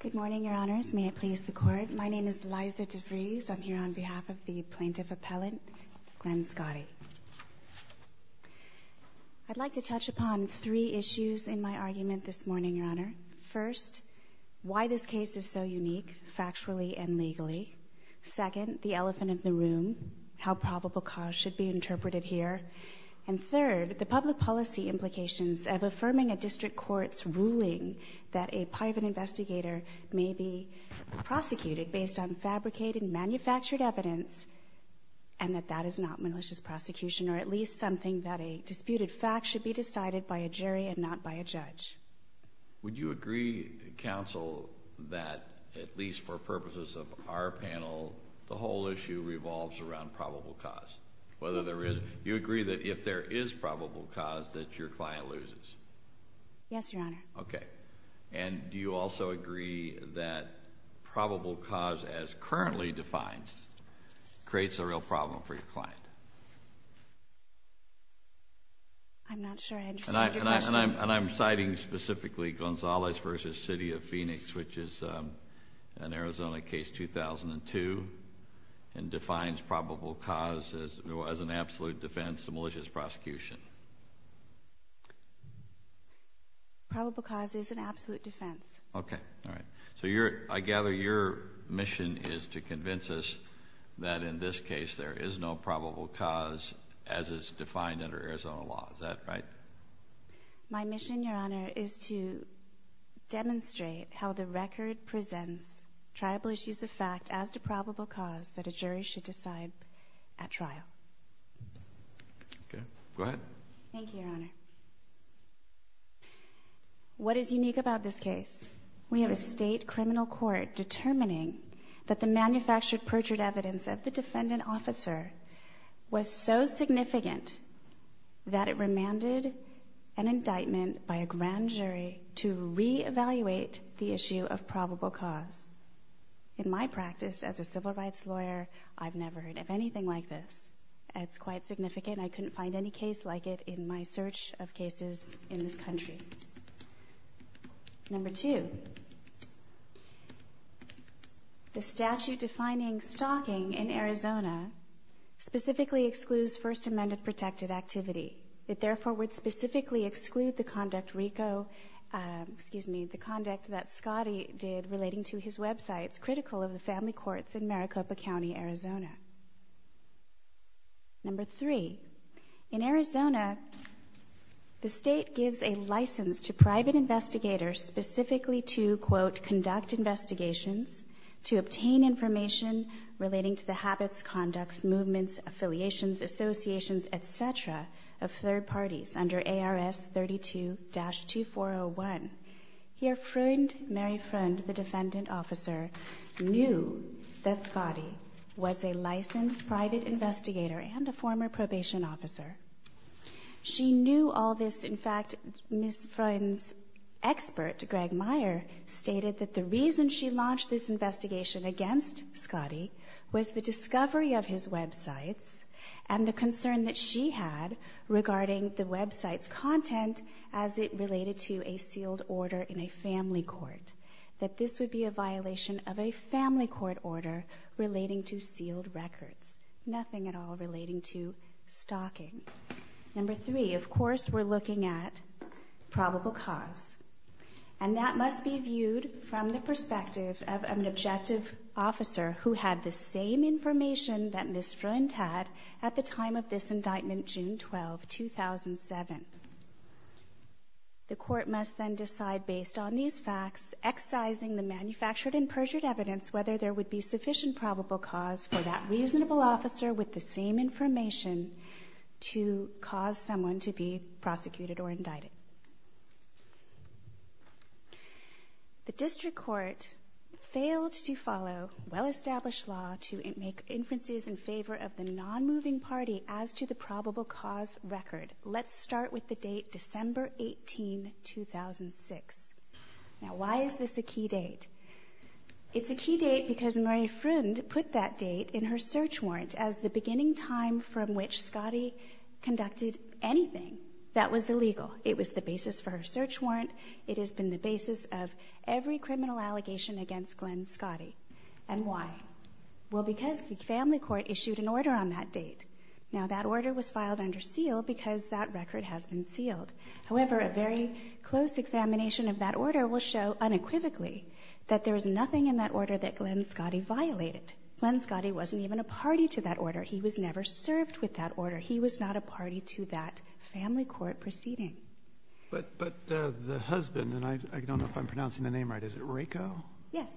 Good morning, Your Honors. May it please the Court. My name is Liza DeVries. I'm here on behalf of the Plaintiff Appellant, Glenn Scotti. I'd like to touch upon three issues in my argument this morning, Your Honor. First, why this case is so unique, factually and legally. Second, the elephant in the room, how probable cause should be interpreted here. And third, the public policy implications of affirming a district court's ruling that a private investigator may be prosecuted based on fabricated, manufactured evidence, and that that is not malicious prosecution, or at least something that a disputed fact should be decided by a jury and not by a judge. Would you agree, Counsel, that at least for purposes of our panel, the whole issue revolves around probable cause? Whether you agree that if there is probable cause that your client loses? Yes, Your Honor. Okay. And do you also agree that probable cause, as currently defined, creates a real problem for your client? I'm not sure I understand your question. And I'm citing specifically Gonzalez v. City of Phoenix, which is an Arizona case, 2002, and defines probable cause as an absolute defense to malicious prosecution. Probable cause is an absolute defense. Okay. All right. So I gather your mission is to convince us that in this case there is no probable cause as is defined under Arizona law. Is that right? My mission, Your Honor, is to demonstrate how the record presents triable issues of fact as to probable cause that a jury should decide at trial. Okay. Go ahead. Thank you, Your Honor. What is unique about this case? We have a state criminal court determining that the manufactured perjured evidence of the defendant officer was so significant that it remanded an indictment by a grand jury to reevaluate the issue of probable cause. In my practice as a civil rights lawyer, I've never heard of anything like this. It's quite significant. I couldn't find any case like it in my search of cases in this country. Number two, the statute defining stalking in Arizona specifically excludes First Amendment protected activity. It therefore would specifically exclude the conduct RICO, excuse me, the conduct that Scottie did relating to his websites critical of the family courts in Maricopa County, Arizona. Number three, in Arizona, the state gives a license to private investigators specifically to, quote, conduct investigations to obtain information relating to the habits, conducts, movements, affiliations, associations, et cetera, of third parties under ARS 32-2401. Here, Mary Freund, the defendant officer, knew that Scottie was a licensed private investigator and a former probation officer. She knew all this. In fact, Ms. Freund's expert, Greg Meyer, stated that the reason she launched this investigation against Scottie was the discovery of his websites and the concern that she had regarding the website's content as it related to a sealed order in a family court, that this would be a violation of a family court order relating to sealed records, nothing at all relating to stalking. Number three, of course, we're looking at probable cause, and that must be viewed from the perspective of an objective officer who had the same information that Ms. Freund had in indictment June 12, 2007. The court must then decide, based on these facts, excising the manufactured and perjured evidence whether there would be sufficient probable cause for that reasonable officer with the same information to cause someone to be prosecuted or indicted. The district court failed to follow well-established law to make inferences in favor of the non-moving party as to the probable cause record. Let's start with the date December 18, 2006. Now, why is this a key date? It's a key date because Mary Freund put that date in her search warrant as the beginning time from which Scottie conducted anything that was illegal. It was the basis for her search warrant. It has been the basis of every criminal allegation against Glenn Scottie. And why? Well, because the family court issued an order on that date. Now, that order was filed under seal because that record has been sealed. However, a very close examination of that order will show unequivocally that there was nothing in that order that Glenn Scottie violated. Glenn Scottie wasn't even a party to that order. He was never served with that order. He was not a party to that family court proceeding. But the husband, and I don't know if I'm pronouncing the name right, is it Rako? Yes,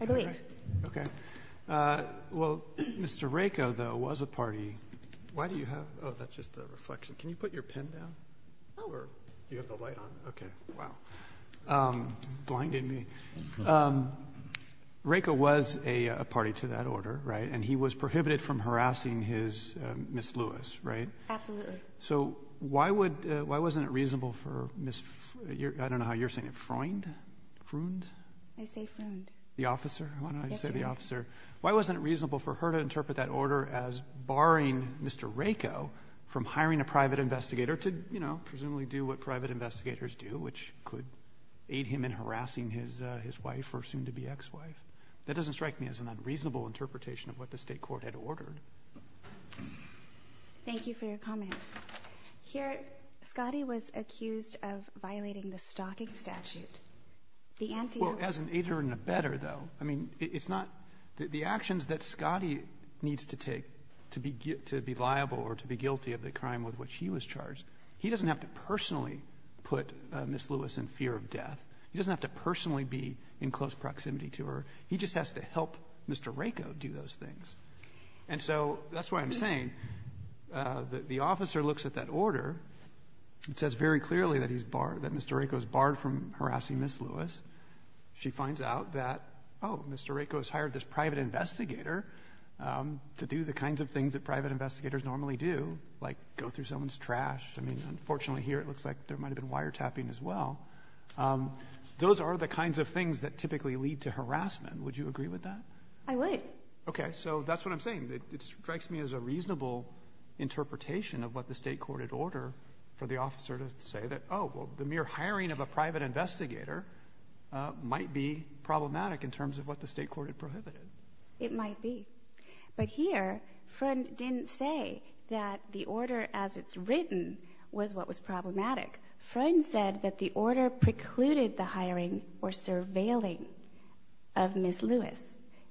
I believe. Okay. Well, Mr. Rako, though, was a party. Why do you have, oh, that's just a reflection. Can you put your pen down? Oh. Or do you have the light on? Okay, wow. Blinding me. Rako was a party to that order, right? And he was prohibited from harassing his Miss Lewis, right? Absolutely. So why wasn't it reasonable for Miss, I don't know how you're pronouncing it, Freund? Freund? I say Freund. The officer? Why don't I say the officer? Why wasn't it reasonable for her to interpret that order as barring Mr. Rako from hiring a private investigator to, you know, presumably do what private investigators do, which could aid him in harassing his wife, or soon-to-be ex-wife? That doesn't strike me as an unreasonable interpretation of what the state court had ordered. Thank you for your comment. Here, Scottie was accused of violating the stalking statute. Well, as an aider and abetter, though, I mean, it's not the actions that Scottie needs to take to be liable or to be guilty of the crime with which he was charged. He doesn't have to personally put Miss Lewis in fear of death. He doesn't have to personally be in close proximity to her. He just has to help Mr. Rako do those things. And so that's what I'm saying. The officer looks at that order. It says very clearly that Mr. Rako is barred from harassing Miss Lewis. She finds out that, oh, Mr. Rako has hired this private investigator to do the kinds of things that private investigators normally do, like go through someone's trash. I mean, unfortunately here, it looks like there might have been wiretapping as well. Those are the kinds of things that typically lead to harassment. Would you agree with that? I would. Okay. So that's what I'm saying. It strikes me as a reasonable interpretation of what the state court had ordered for the officer to say that, oh, well, the mere hiring of a private investigator might be problematic in terms of what the state court had prohibited. It might be. But here, Freund didn't say that the order as it's written was what was problematic. Freund said that the order precluded the hiring or surveilling of Miss Lewis,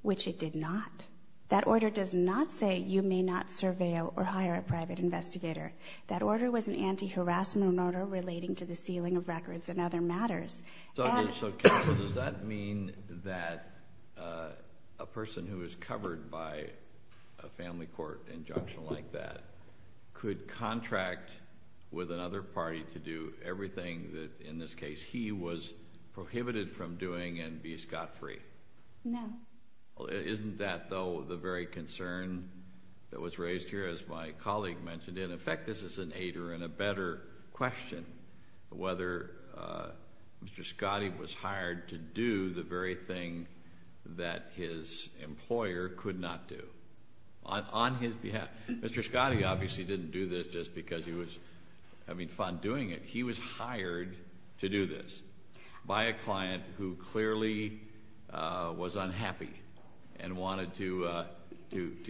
which it did not. That order does not say you may not surveil or hire a private investigator. That order was an anti-harassment order relating to the sealing of records and other matters. So does that mean that a person who is covered by a family court injunction like that could contract with another party to do everything that, in this case, he was prohibited from doing and be scot-free? No. Isn't that, though, the very concern that was raised here, as my colleague mentioned? In effect, this is an aider and a better question, whether Mr. Scottie was hired to do the very thing that his employer could not do. On his behalf. Mr. Scottie obviously didn't do this just because he was having fun doing it. He was hired to do this by a client who clearly was unhappy and wanted to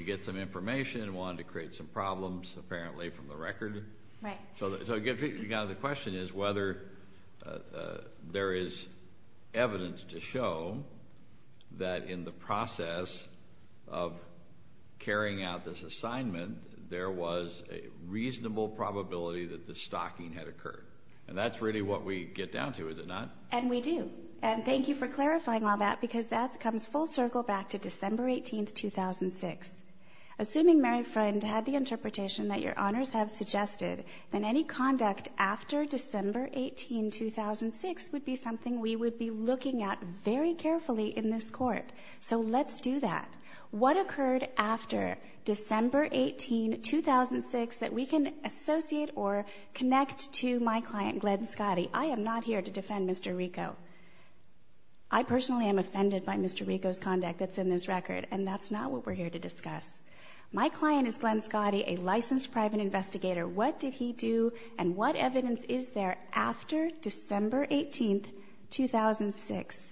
get some information and wanted to create some problems, apparently, from the record. Right. So the question is whether there is evidence to show that in the process of the stocking that had occurred. And that's really what we get down to, is it not? And we do. And thank you for clarifying all that, because that comes full circle back to December 18, 2006. Assuming Mary Friend had the interpretation that Your Honors have suggested, then any conduct after December 18, 2006 would be something we would be looking at very carefully in this Court. So let's do that. What occurred after December 18, 2006 that we can associate or connect to my client, Glenn Scottie? I am not here to defend Mr. Rico. I personally am offended by Mr. Rico's conduct that's in this record, and that's not what we're here to discuss. My client is Glenn Scottie, a licensed private investigator. What did he do and what evidence is there after December 18, 2006?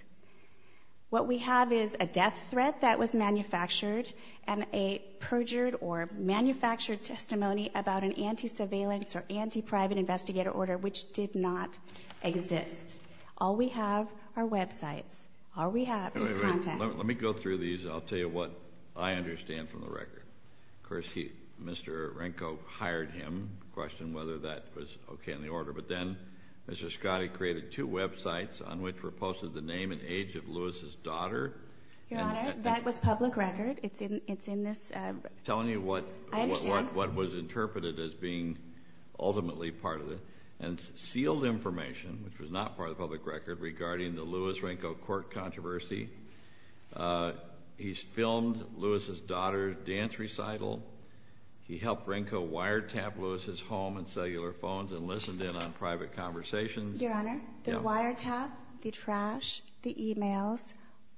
What we have is a death threat that was anti-surveillance or anti-private investigator order, which did not exist. All we have are websites. All we have is contact. Let me go through these. I'll tell you what I understand from the record. Of course, Mr. Rico hired him, questioned whether that was okay in the order. But then Mr. Scottie created two websites on which were posted the name and age of Lewis's daughter. Your Honor, that was public record. It's in this... Telling you what... I understand. ...as being ultimately part of it and sealed information, which was not part of the public record regarding the Lewis-Rico court controversy. He's filmed Lewis's daughter's dance recital. He helped Rico wiretap Lewis's home and cellular phones and listened in on private conversations. Your Honor, the wiretap, the trash, the emails,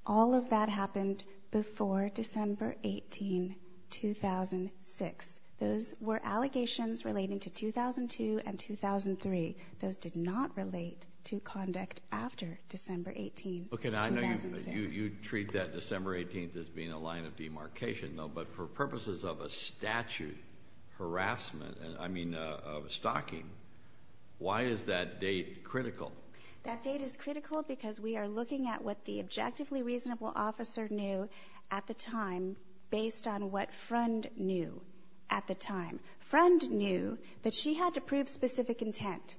all of that happened before December 18, 2006. Those were allegations relating to 2002 and 2003. Those did not relate to conduct after December 18, 2006. Okay. Now, I know you treat that December 18 as being a line of demarcation, though. But for purposes of a statute harassment, I mean, of stalking, why is that date critical? That date is critical because we are looking at what the objectively reasonable officer knew at the time based on what Friend knew at the time. Friend knew that she had to prove specific intent.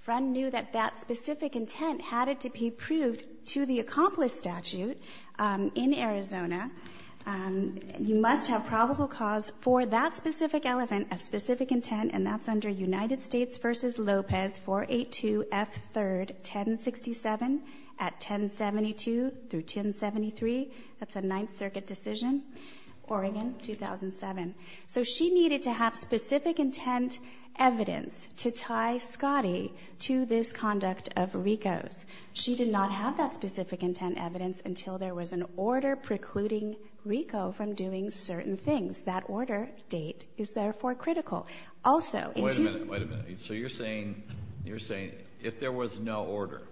Friend knew that that specific intent had to be proved to the accomplice statute in Arizona. You must have probable cause for that specific element of specific intent, and that's under United States v. Lopez 482 F. 3rd 1067 at 1072 through 1073. That's a Ninth Circuit decision, Oregon, 2007. So she needed to have specific intent evidence to tie Scottie to this conduct of Rico's. She did not have that specific intent evidence until there was an order precluding Rico from doing certain things. That order date is, therefore, critical. Also— Wait a minute. Wait a minute. So you're saying, you're saying if there was no order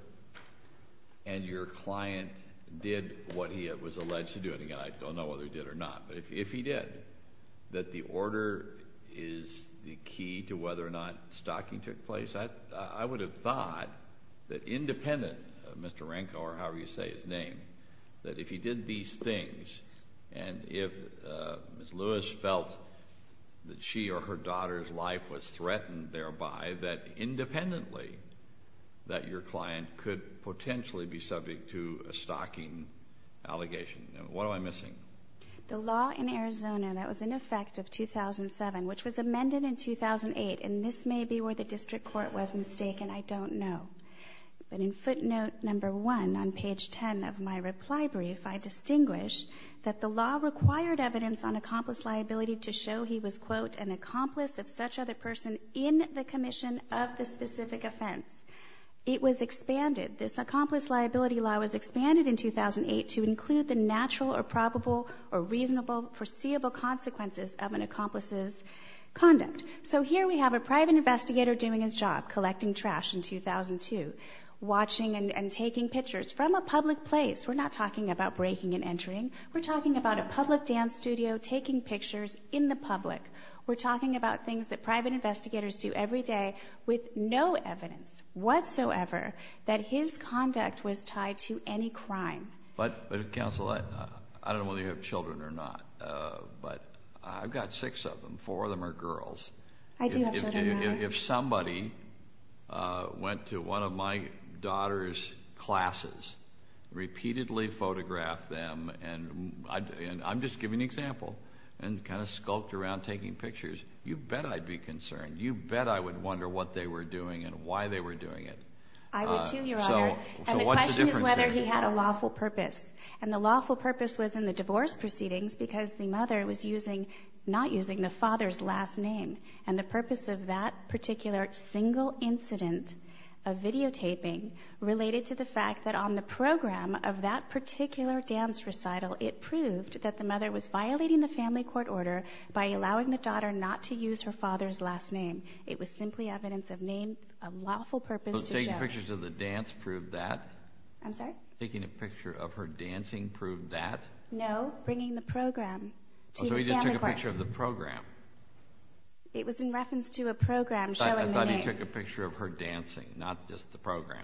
and your client did what he was alleged to do—and again, I don't know whether he did or not—but if he did, that the order is the key to whether or not stalking took place? I would have thought that independent of Mr. Renko or however you say his name, that if he did these things and if Ms. Lewis felt that she or her daughter's life was threatened thereby, that independently that your client could potentially be subject to a stalking allegation. What am I missing? The law in Arizona that was in effect of 2007, which was amended in 2008, and this may be where the district court was mistaken. I don't know. But in footnote number one on page 10 of my reply brief, I distinguish that the law required evidence on accomplice liability to show he was, quote, an accomplice of such other person in the commission of the specific offense. It was expanded. This accomplice liability law was expanded in 2008 to include the natural or probable or reasonable foreseeable consequences of an accomplice's conduct. So here we have a private investigator doing his job, collecting trash in 2002, watching and taking pictures from a public place. We're not talking about breaking and entering. We're talking about a public dance studio, taking pictures in the public. We're talking about things that private investigators do every day with no evidence whatsoever that his conduct was tied to any crime. But counsel, I don't know whether you have children or not, but I've got six of them. Four of them are girls. I do have children. If somebody went to one of my daughter's classes, repeatedly photographed them, and I'm just giving an example, and kind of skulked around taking pictures, you bet I'd be concerned. You bet I would wonder what they were doing and why they were doing it. I would too, Your Honor. And the question is whether he had a lawful purpose. And the lawful purpose was in the divorce proceedings because the mother was not using the father's last name. And the purpose of that particular single incident of videotaping related to the fact that on the program of that particular dance recital, it proved that the mother was violating the family court order by allowing the daughter not to use her father's last name. It was simply evidence of name, of lawful purpose to show. So taking pictures of the dance proved that? I'm sorry? Taking a picture of her dancing proved that? No, bringing the program to the family court. So he just took a picture of the program? It was in reference to a not just the program.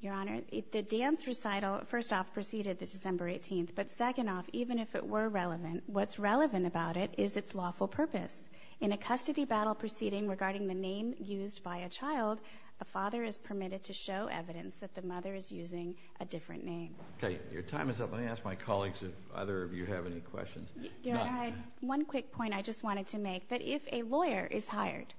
Your Honor, the dance recital, first off, preceded the December 18th, but second off, even if it were relevant, what's relevant about it is its lawful purpose. In a custody battle proceeding regarding the name used by a child, a father is permitted to show evidence that the mother is using a different name. Okay, your time is up. Let me ask my colleagues if either of you have any questions. Your Honor, I had one quick point I just wanted to make, that if a lawyer is hired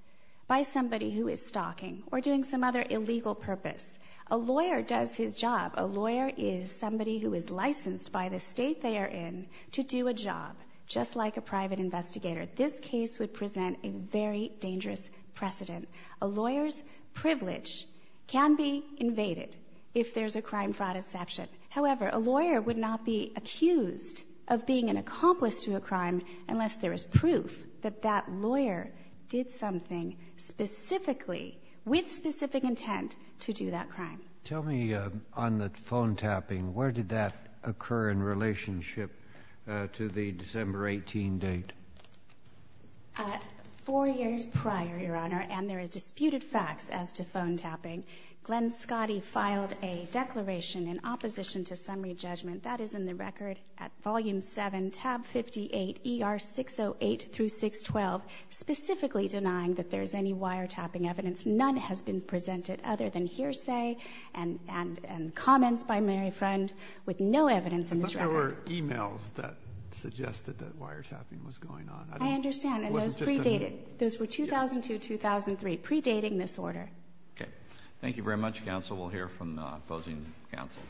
by somebody who is stalking or doing some other illegal purpose, a lawyer does his job. A lawyer is somebody who is licensed by the state they are in to do a job, just like a private investigator. This case would present a very dangerous precedent. A lawyer's privilege can be invaded if there's a crime fraud exception. However, a lawyer would not be accused of being an accomplice to a crime unless there is proof that that lawyer did something specifically, with specific intent, to do that crime. Tell me, on the phone tapping, where did that occur in relationship to the December 18 date? Four years prior, Your Honor, and there are disputed facts as to phone tapping. Glenn Scotty filed a declaration in opposition to summary judgment. That is in the record at volume 7, tab 58, ER 608-612, specifically denying that there is any wiretapping evidence. None has been presented other than hearsay and comments by Mary Friend, with no evidence in this record. I thought there were e-mails that suggested that wiretapping was going on. I understand. It wasn't just a moot. Those were pre-dated. Those were 2002, 2003, pre-dating this order. Okay. Thank you very much, counsel. We'll hear from the opposing counsel.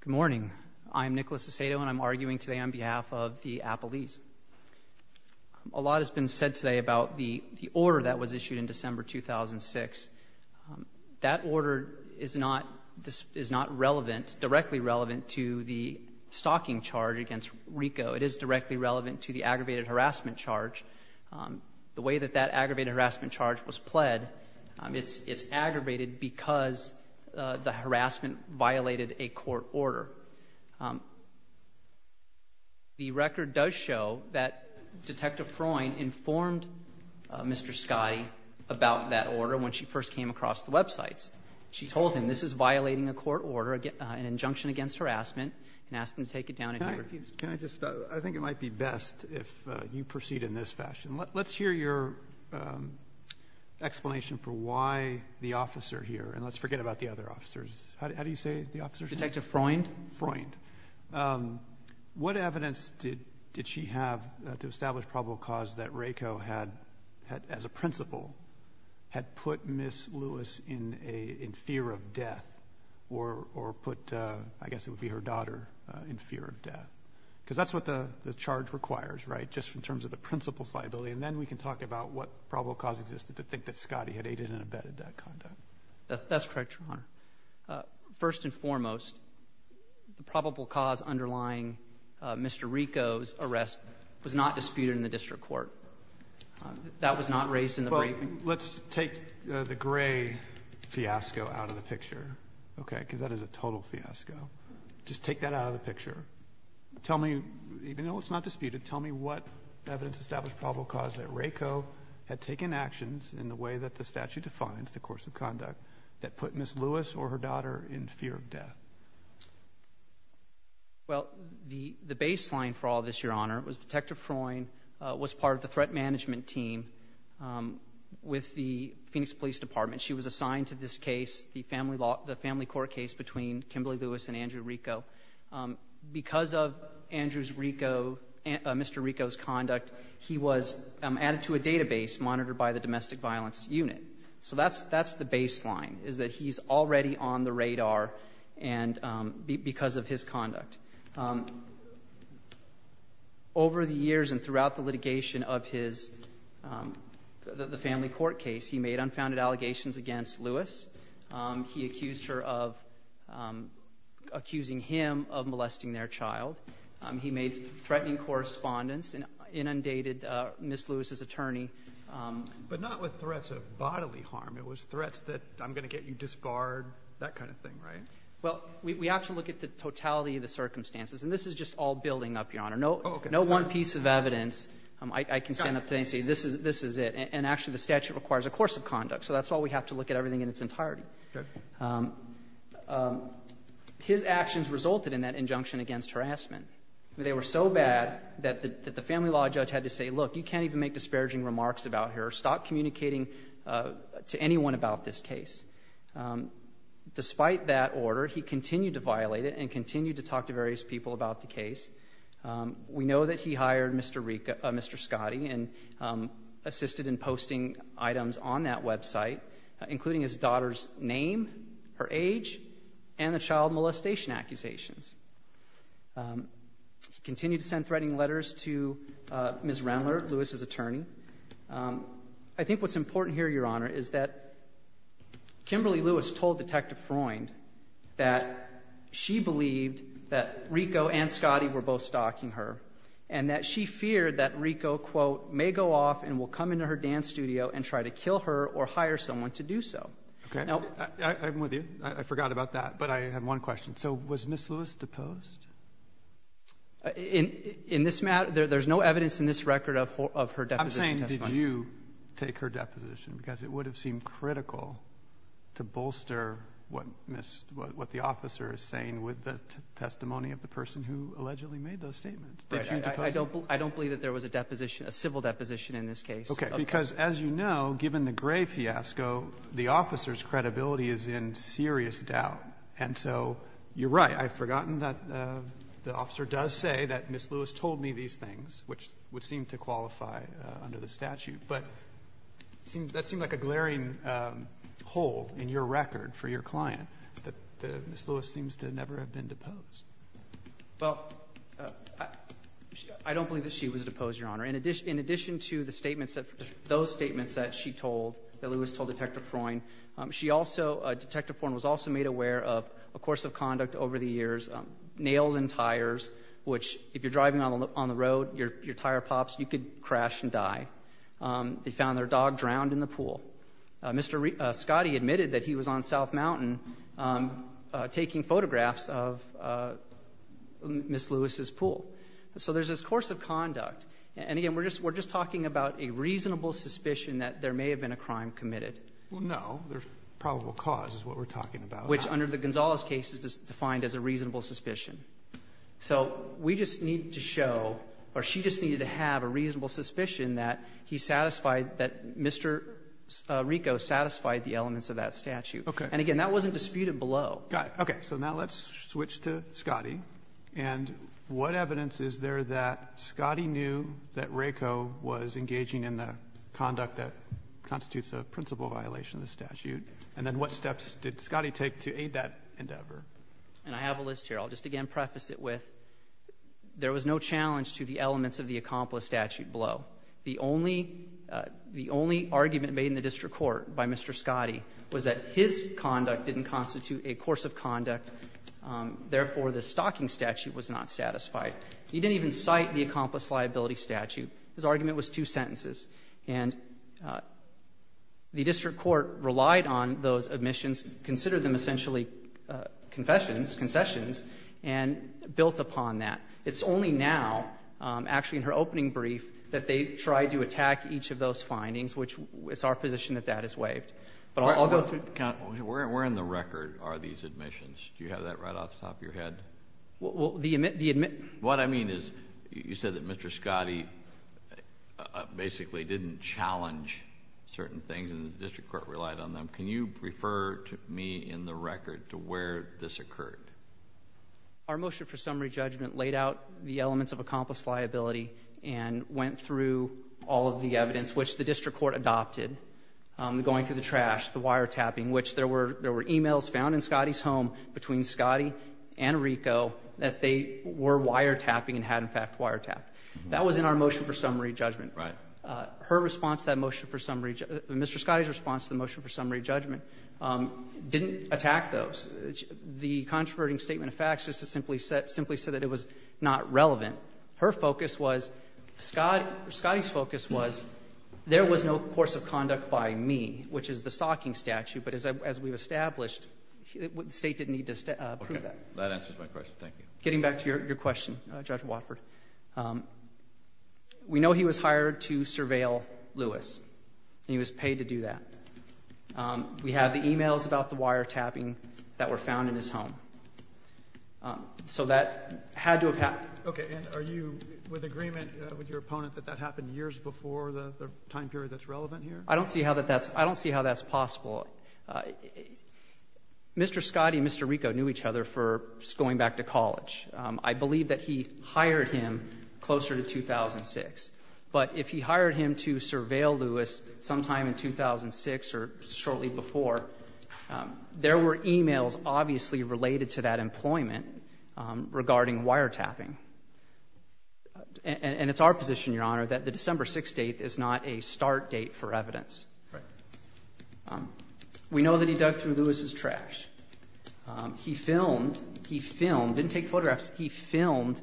Good morning. I'm Nicholas Aceto, and I'm arguing today on behalf of the Appellees. A lot has been said today about the order that was issued in December 2006. That order is not relevant, directly relevant, to the stalking charge against RICO. It is directly relevant to the aggravated harassment charge. The way that that aggravated harassment charge was pled, it's aggravated because the harassment violated a court order. The record does show that Detective Freund informed Mr. Scotty about that order when she first came across the websites. She told him, this is violating a court order, an injunction against harassment, and asked him to take it down and hear it. Can I just stop? I think it might be best if you proceed in this fashion. Let's hear your explanation for why the officer here, and let's forget about the other officers. How do you say the officer's name? Detective Freund. Freund. What evidence did she have to establish probable cause that RICO had, as a principle, had put Ms. Lewis in fear of death, or put, I guess it would be her daughter, in fear of death? Because that's what the charge requires, right? Just in terms of the principle's liability, and then we can talk about what probable cause existed to think that Scotty had aided and abetted that conduct. That's correct, Your Honor. First and foremost, the probable cause underlying Mr. RICO's arrest was not disputed in the district court. That was not raised in the briefing. Well, let's take the gray fiasco out of the picture, okay, because that is a total fiasco. Just take that out of the picture. Tell me, even though it's not disputed, tell me what evidence established probable cause that RICO had taken actions in the way that the statute defines the course of conduct that put Ms. Lewis or her daughter in fear of death. Well, the baseline for all this, Your Honor, was Detective Freund was part of the threat management team with the Phoenix Police Department. She was assigned to this case, the Family Court case between Kimberly Lewis and Andrew RICO. Because of Andrew's RICO, Mr. RICO's conduct, he was added to a database monitored by the Domestic Violence Unit. So that's the baseline, is that he's already on the radar because of his conduct. Over the years and throughout the litigation of the Family Court case, he made unfounded allegations against Lewis. He accused her of accusing him of molesting their child. He made threatening correspondence and inundated Ms. Lewis's attorney. But not with threats of bodily harm. It was threats that I'm going to get you disbarred, that kind of thing, right? Well, we have to look at the totality of the circumstances. And this is just all building up, Your Honor. No one piece of evidence I can stand up today and say this is it. And actually, the statute requires a course of conduct. So that's why we have to look at everything in its entirety. His actions resulted in that injunction against harassment. They were so bad that the family law judge had to say, look, you can't even make disparaging remarks about her. Stop communicating to anyone about this case. Despite that order, he continued to violate it and continued to talk to various people about the case. We know that he hired Mr. Scotty and assisted in posting items on that website, including his daughter's name, her age, and the child molestation accusations. He continued to send threatening letters to Ms. Renler, Lewis's attorney. I think what's important here, Your Honor, is that Kimberly Lewis told Detective Freund that she believed that Rico and Scotty were both stalking her and that she feared that Rico, quote, may go off and will come into her dance studio and try to kill her or hire someone to do so. Now — Okay. I'm with you. I forgot about that. Okay. But I have one question. So was Ms. Lewis deposed? In this matter, there's no evidence in this record of her deposition testimony. I'm saying did you take her deposition because it would have seemed critical to bolster what the officer is saying with the testimony of the person who allegedly made those statements. I don't believe that there was a deposition, a civil deposition in this case. Okay, because as you know, given the Gray fiasco, the officer's credibility is in serious doubt. And so you're right. I've forgotten that the officer does say that Ms. Lewis told me these things, which would seem to qualify under the statute. But that seemed like a glaring hole in your record for your client, that Ms. Lewis seems to never have been deposed. Well, I don't believe that she was deposed, Your Honor. In addition to the statements that — those statements that she told, that Lewis told Detective Freund, she also — Detective Freund was also made aware of a course of conduct over the years, nails and tires, which if you're driving on the road, your tire pops, you could crash and die. They found their dog drowned in the pool. Mr. Scotty admitted that he was on South Mountain taking photographs of Ms. Lewis's pool. So there's this course of conduct. And again, we're just — we're just talking about a reasonable suspicion that there may have been a crime committed. Well, no. There's probable cause is what we're talking about. Which under the Gonzales case is defined as a reasonable suspicion. So we just need to show, or she just needed to have a reasonable suspicion that he satisfied — that Mr. Rieco satisfied the elements of that statute. Okay. And again, that wasn't disputed below. Okay. So now let's switch to Scotty. And what evidence is there that Scotty knew that Rieco was engaging in the conduct that constitutes a principal violation of the statute? And then what steps did Scotty take to aid that endeavor? And I have a list here. I'll just again preface it with, there was no challenge to the elements of the accomplice statute below. The only — the only argument made in the district court by Mr. Scotty was that his conduct didn't constitute a course of conduct, therefore, the stalking statute was not satisfied. He didn't even cite the accomplice liability statute. His argument was two sentences. And the district court relied on those admissions, considered them essentially confessions, concessions, and built upon that. It's only now, actually in her opening brief, that they tried to attack each of those findings, which it's our position that that is waived. But I'll go through — Where in the record are these admissions? Do you have that right off the top of your head? Well, the — What I mean is, you said that Mr. Scotty basically didn't challenge certain things and the district court relied on them. Can you refer to me in the record to where this occurred? Our motion for summary judgment laid out the elements of accomplice liability and went through all of the evidence, which the district court adopted, going through the trash, the wiretapping, which there were emails found in Scotty's home between Scotty and Rico that they were wiretapping and had, in fact, wiretapped. That was in our motion for summary judgment. Right. Her response to that motion for summary — Mr. Scotty's response to the motion for summary judgment didn't attack those. The controverting statement of facts just simply said that it was not relevant. Her focus was — Scotty's focus was there was no course of conduct by me, which is the Okay. That answers my question. Thank you. Getting back to your question, Judge Watford, we know he was hired to surveil Lewis and he was paid to do that. We have the emails about the wiretapping that were found in his home. So that had to have happened. Okay. And are you with agreement with your opponent that that happened years before the time period that's relevant here? I don't see how that's — I don't see how that's possible. Mr. Scotty and Mr. Rico knew each other for going back to college. I believe that he hired him closer to 2006. But if he hired him to surveil Lewis sometime in 2006 or shortly before, there were emails obviously related to that employment regarding wiretapping. And it's our position, Your Honor, that the December 6th date is not a start date for evidence. Right. We know that he dug through Lewis's trash. He filmed — he filmed — didn't take photographs — he filmed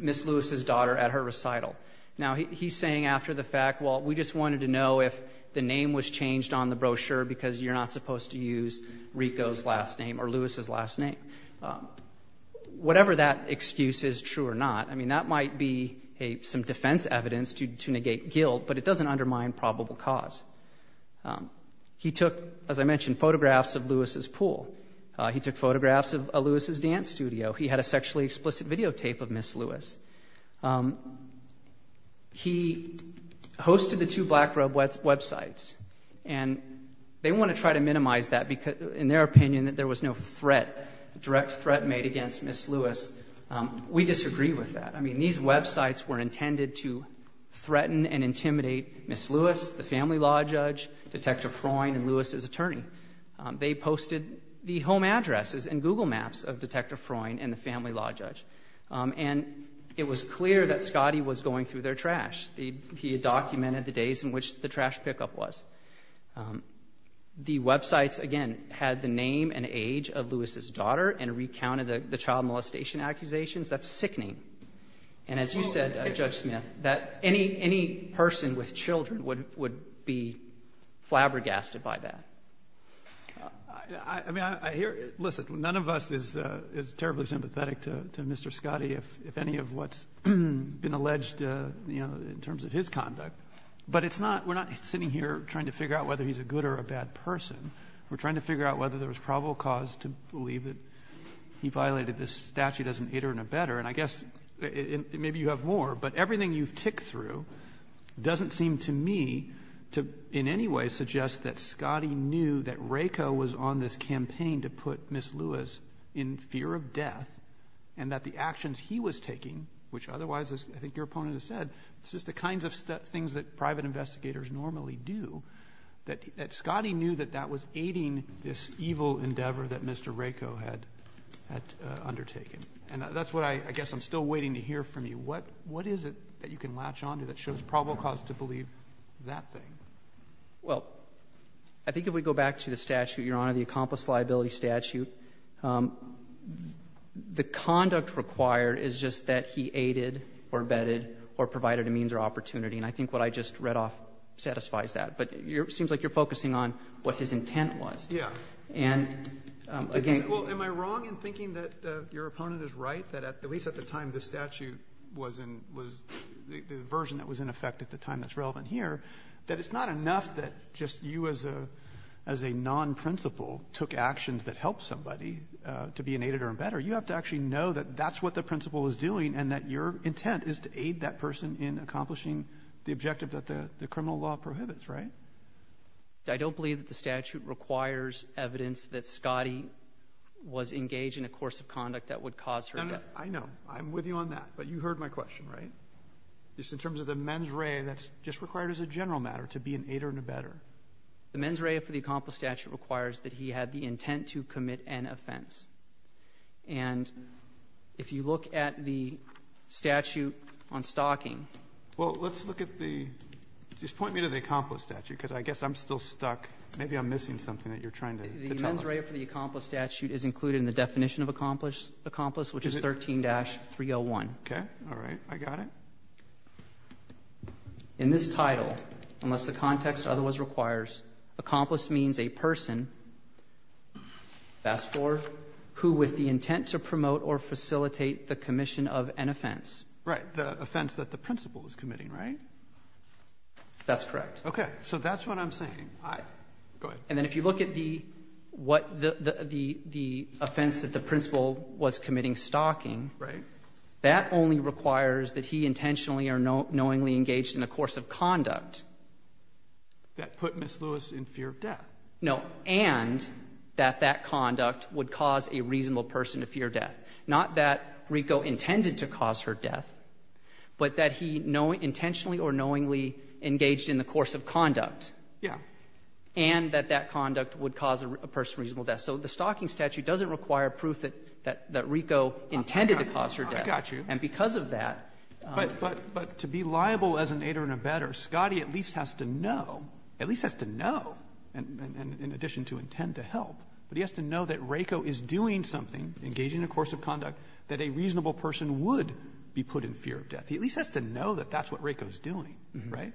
Ms. Lewis's daughter at her recital. Now, he's saying after the fact, well, we just wanted to know if the name was changed on the brochure because you're not supposed to use Rico's last name or Lewis's last name. Whatever that excuse is, true or not, I mean, that might be some defense evidence to that cause. He took, as I mentioned, photographs of Lewis's pool. He took photographs of Lewis's dance studio. He had a sexually explicit videotape of Ms. Lewis. He hosted the two BlackRub websites. And they want to try to minimize that because, in their opinion, that there was no threat, direct threat made against Ms. Lewis. We disagree with that. I mean, these websites were intended to threaten and intimidate Ms. Lewis, the family law judge, Detective Freund, and Lewis's attorney. They posted the home addresses and Google Maps of Detective Freund and the family law judge. And it was clear that Scotty was going through their trash. He had documented the days in which the trash pickup was. The websites, again, had the name and age of Lewis's daughter and recounted the child molestation accusations. That's sickening. And as you said, Judge Smith, that any person with children would be flabbergasted by that. I mean, I hear you. Listen, none of us is terribly sympathetic to Mr. Scotty, if any, of what's been alleged in terms of his conduct. But it's not we're not sitting here trying to figure out whether he's a good or a bad person. We're trying to figure out whether there was probable cause to believe that he violated this statute as an iterant or better. And I guess maybe you have more, but everything you've ticked through doesn't seem to me to in any way suggest that Scotty knew that RACO was on this campaign to put Miss Lewis in fear of death and that the actions he was taking, which otherwise, as I think your opponent has said, it's just the kinds of things that private investigators normally do, that Scotty knew that that was aiding this evil endeavor that Mr. RACO had undertaken. And that's what I guess I'm still waiting to hear from you. What is it that you can latch on to that shows probable cause to believe that thing? Well, I think if we go back to the statute, Your Honor, the accomplice liability statute, the conduct required is just that he aided or abetted or provided a means or opportunity. And I think what I just read off satisfies that. But it seems like you're focusing on what his intent was. And again you're saying that he violated this statute. Your opponent is right that at least at the time the statute was in, was the version that was in effect at the time that's relevant here, that it's not enough that just you as a non-principal took actions that helped somebody to be aided or abetted. You have to actually know that that's what the principal was doing and that your intent is to aid that person in accomplishing the objective that the criminal law prohibits, right? I don't believe that the statute requires evidence that Scotty was engaged in a course of conduct that would cause her to do it. I know. I'm with you on that. But you heard my question, right? Just in terms of the mens rea, that's just required as a general matter, to be an aider and abetter. The mens rea for the accomplice statute requires that he had the intent to commit an offense. And if you look at the statute on stalking… Well, let's look at the… just point me to the accomplice statute, because I guess I'm still stuck. Maybe I'm missing something that you're trying to tell us. The mens rea for the accomplice statute is included in the definition of accomplice, which is 13-301. Okay. All right. I got it. In this title, unless the context otherwise requires, accomplice means a person… fast forward… who with the intent to promote or facilitate the commission of an offense. Right. The offense that the principal is committing, right? That's correct. Okay. So that's what I'm saying. I… go ahead. And then if you look at the… what the… offense that the principal was committing stalking… Right. That only requires that he intentionally or knowingly engaged in the course of conduct. That put Ms. Lewis in fear of death. No. And that that conduct would cause a reasonable person to fear death. Not that Rico intended to cause her death, but that he intentionally or knowingly engaged in the course of conduct. Yeah. And that that conduct would cause a person reasonable death. So the stalking statute doesn't require proof that Rico intended to cause her death. I got you. And because of that… But to be liable as an aider and abetter, Scottie at least has to know, at least has to know, in addition to intend to help, but he has to know that Rico is doing something, engaging in a course of conduct, that a reasonable person would be put in fear of death. He at least has to know that that's what Rico is doing, right?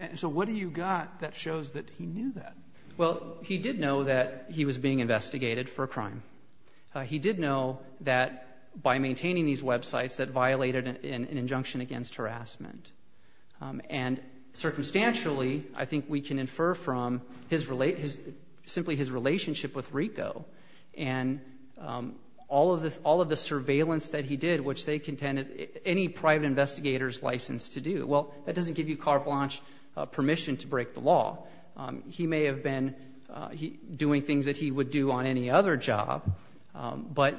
And so what do you got that shows that he knew that? Well, he did know that he was being investigated for a crime. He did know that by maintaining these websites that violated an injunction against harassment. And circumstantially, I think we can infer from simply his relationship with Rico and all of the surveillance that he did, which they contended any private investigator's license to do. Well, that doesn't give you carte blanche permission to break the law. He may have been doing things that he would do on any other job, but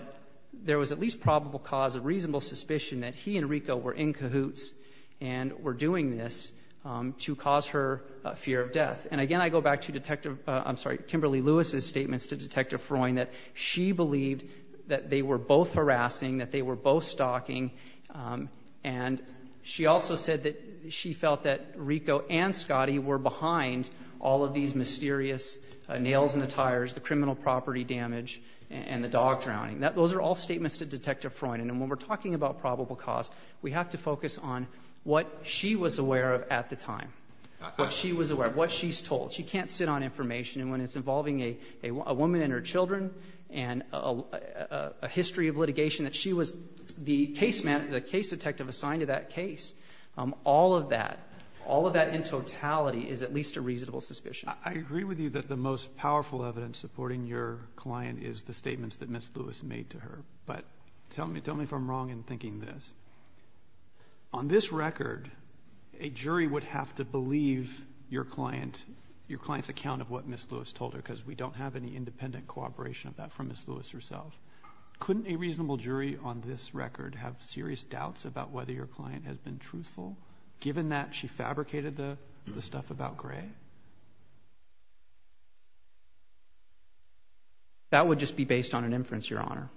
there was at least probable cause of reasonable suspicion that he and Rico were in cahoots and were doing this to cause her fear of death. And again, I go back to Detective — I'm sorry, Kimberly Lewis's statements to Detective Freund that she believed that they were both harassing, that they were both stalking. And she also said that she felt that Rico and Scotty were behind all of these mysterious nails in the tires, the criminal property damage, and the dog drowning. Those are all statements to Detective Freund. And when we're talking about probable cause, we have to focus on what she was aware of at the time, what she was aware of, what she's told. She can't sit on information. And when it's involving a woman and her children and a history of litigation that she was the case detective assigned to that case, all of that, all of that in totality is at least a reasonable suspicion. I agree with you that the most powerful evidence supporting your client is the statements that Ms. Lewis made to her. But tell me if I'm wrong in thinking this. On this record, a jury would have to believe your client's account of what Ms. Lewis told her, because we don't have any independent cooperation of that from Ms. Lewis herself. Couldn't a reasonable jury on this record have serious doubts about whether your client has been truthful, given that she fabricated the stuff about Gray? That would just be based on an inference, Your Honor.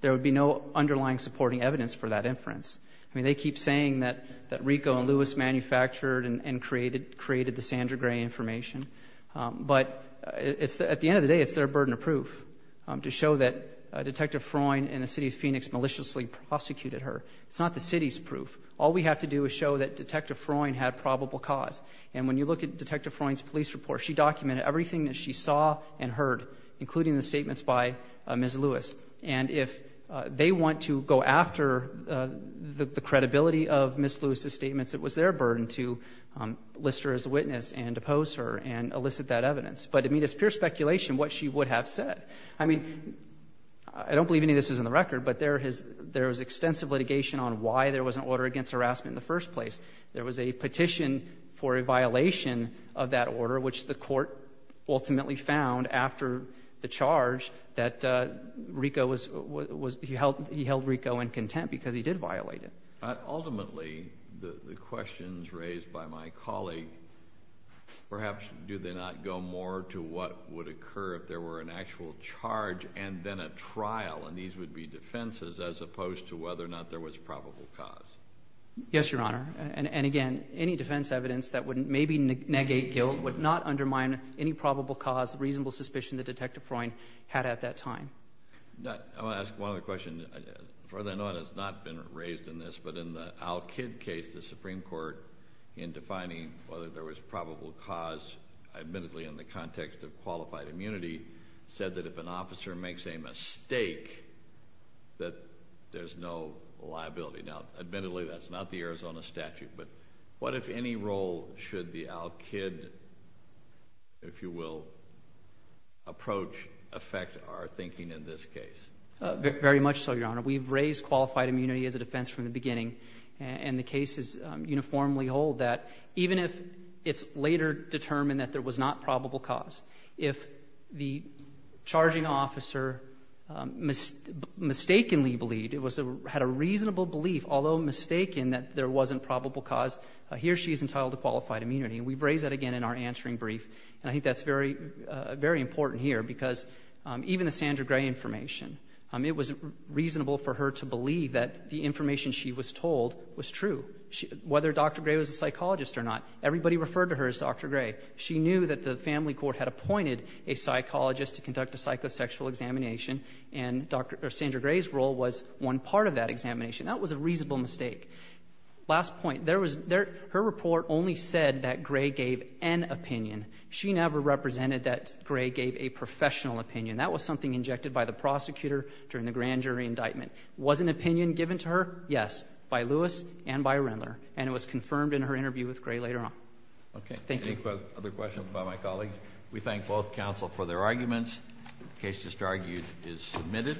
There would be no underlying supporting evidence for that inference. I mean, they keep saying that Rico and Lewis manufactured and created the Sandra Gray information. But at the end of the day, it's their burden of proof to show that Detective Freund in the city of Phoenix maliciously prosecuted her. It's not the city's proof. All we have to do is show that Detective Freund had probable cause. And when you look at Detective Freund's police report, she documented everything that she saw and heard, including the statements by Ms. Lewis. And if they want to go after the credibility of Ms. Lewis's statements, it was their burden to list her as a witness and depose her and elicit that evidence. But to me, it's pure speculation what she would have said. I mean, I don't believe any of this is in the record, but there is extensive litigation on why there was an order against harassment in the first place. There was a petition for a violation of that order, which the court ultimately found after the charge that he held Rico in contempt because he did violate it. Ultimately, the questions raised by my colleague, perhaps, do they not go more to what would occur if there were an actual charge and then a trial, and these would be defenses, as opposed to whether or not there was probable cause? Yes, Your Honor. And again, any defense evidence that would maybe negate guilt would not undermine any probable cause of reasonable suspicion that Detective Freund had at that time. I want to ask one other question. From what I know, it has not been raised in this, but in the Al-Kid case, the Supreme Court, in defining whether there was probable cause, admittedly, in the context of qualified immunity, said that if an officer makes a mistake, that there's no liability. Now admittedly, that's not the Arizona statute, but what, if any, role should the Al-Kid, if you will, approach affect our thinking in this case? Very much so, Your Honor. We've raised qualified immunity as a defense from the beginning, and the cases uniformly hold that even if it's later determined that there was not probable cause, if the charging officer mistakenly believed, had a reasonable belief, although mistaken, that there wasn't probable cause, he or she is entitled to qualified immunity. And we've raised that again in our answering brief, and I think that's very important here, because even the Sandra Gray information, it was reasonable for her to believe that the information she was told was true, whether Dr. Gray was a psychologist or not. Everybody referred to her as Dr. Gray. She knew that the family court had appointed a psychologist to conduct a psychosexual examination, and Sandra Gray's role was one part of that examination. That was a reasonable mistake. Last point, her report only said that Gray gave an opinion. She never represented that Gray gave a professional opinion. That was something injected by the prosecutor during the grand jury indictment. Was an opinion given to her? Yes, by Lewis and by Rendler, and it was confirmed in her interview with Gray later on. Okay. Thank you. Other questions by my colleagues? We thank both counsel for their arguments. The case just argued is submitted.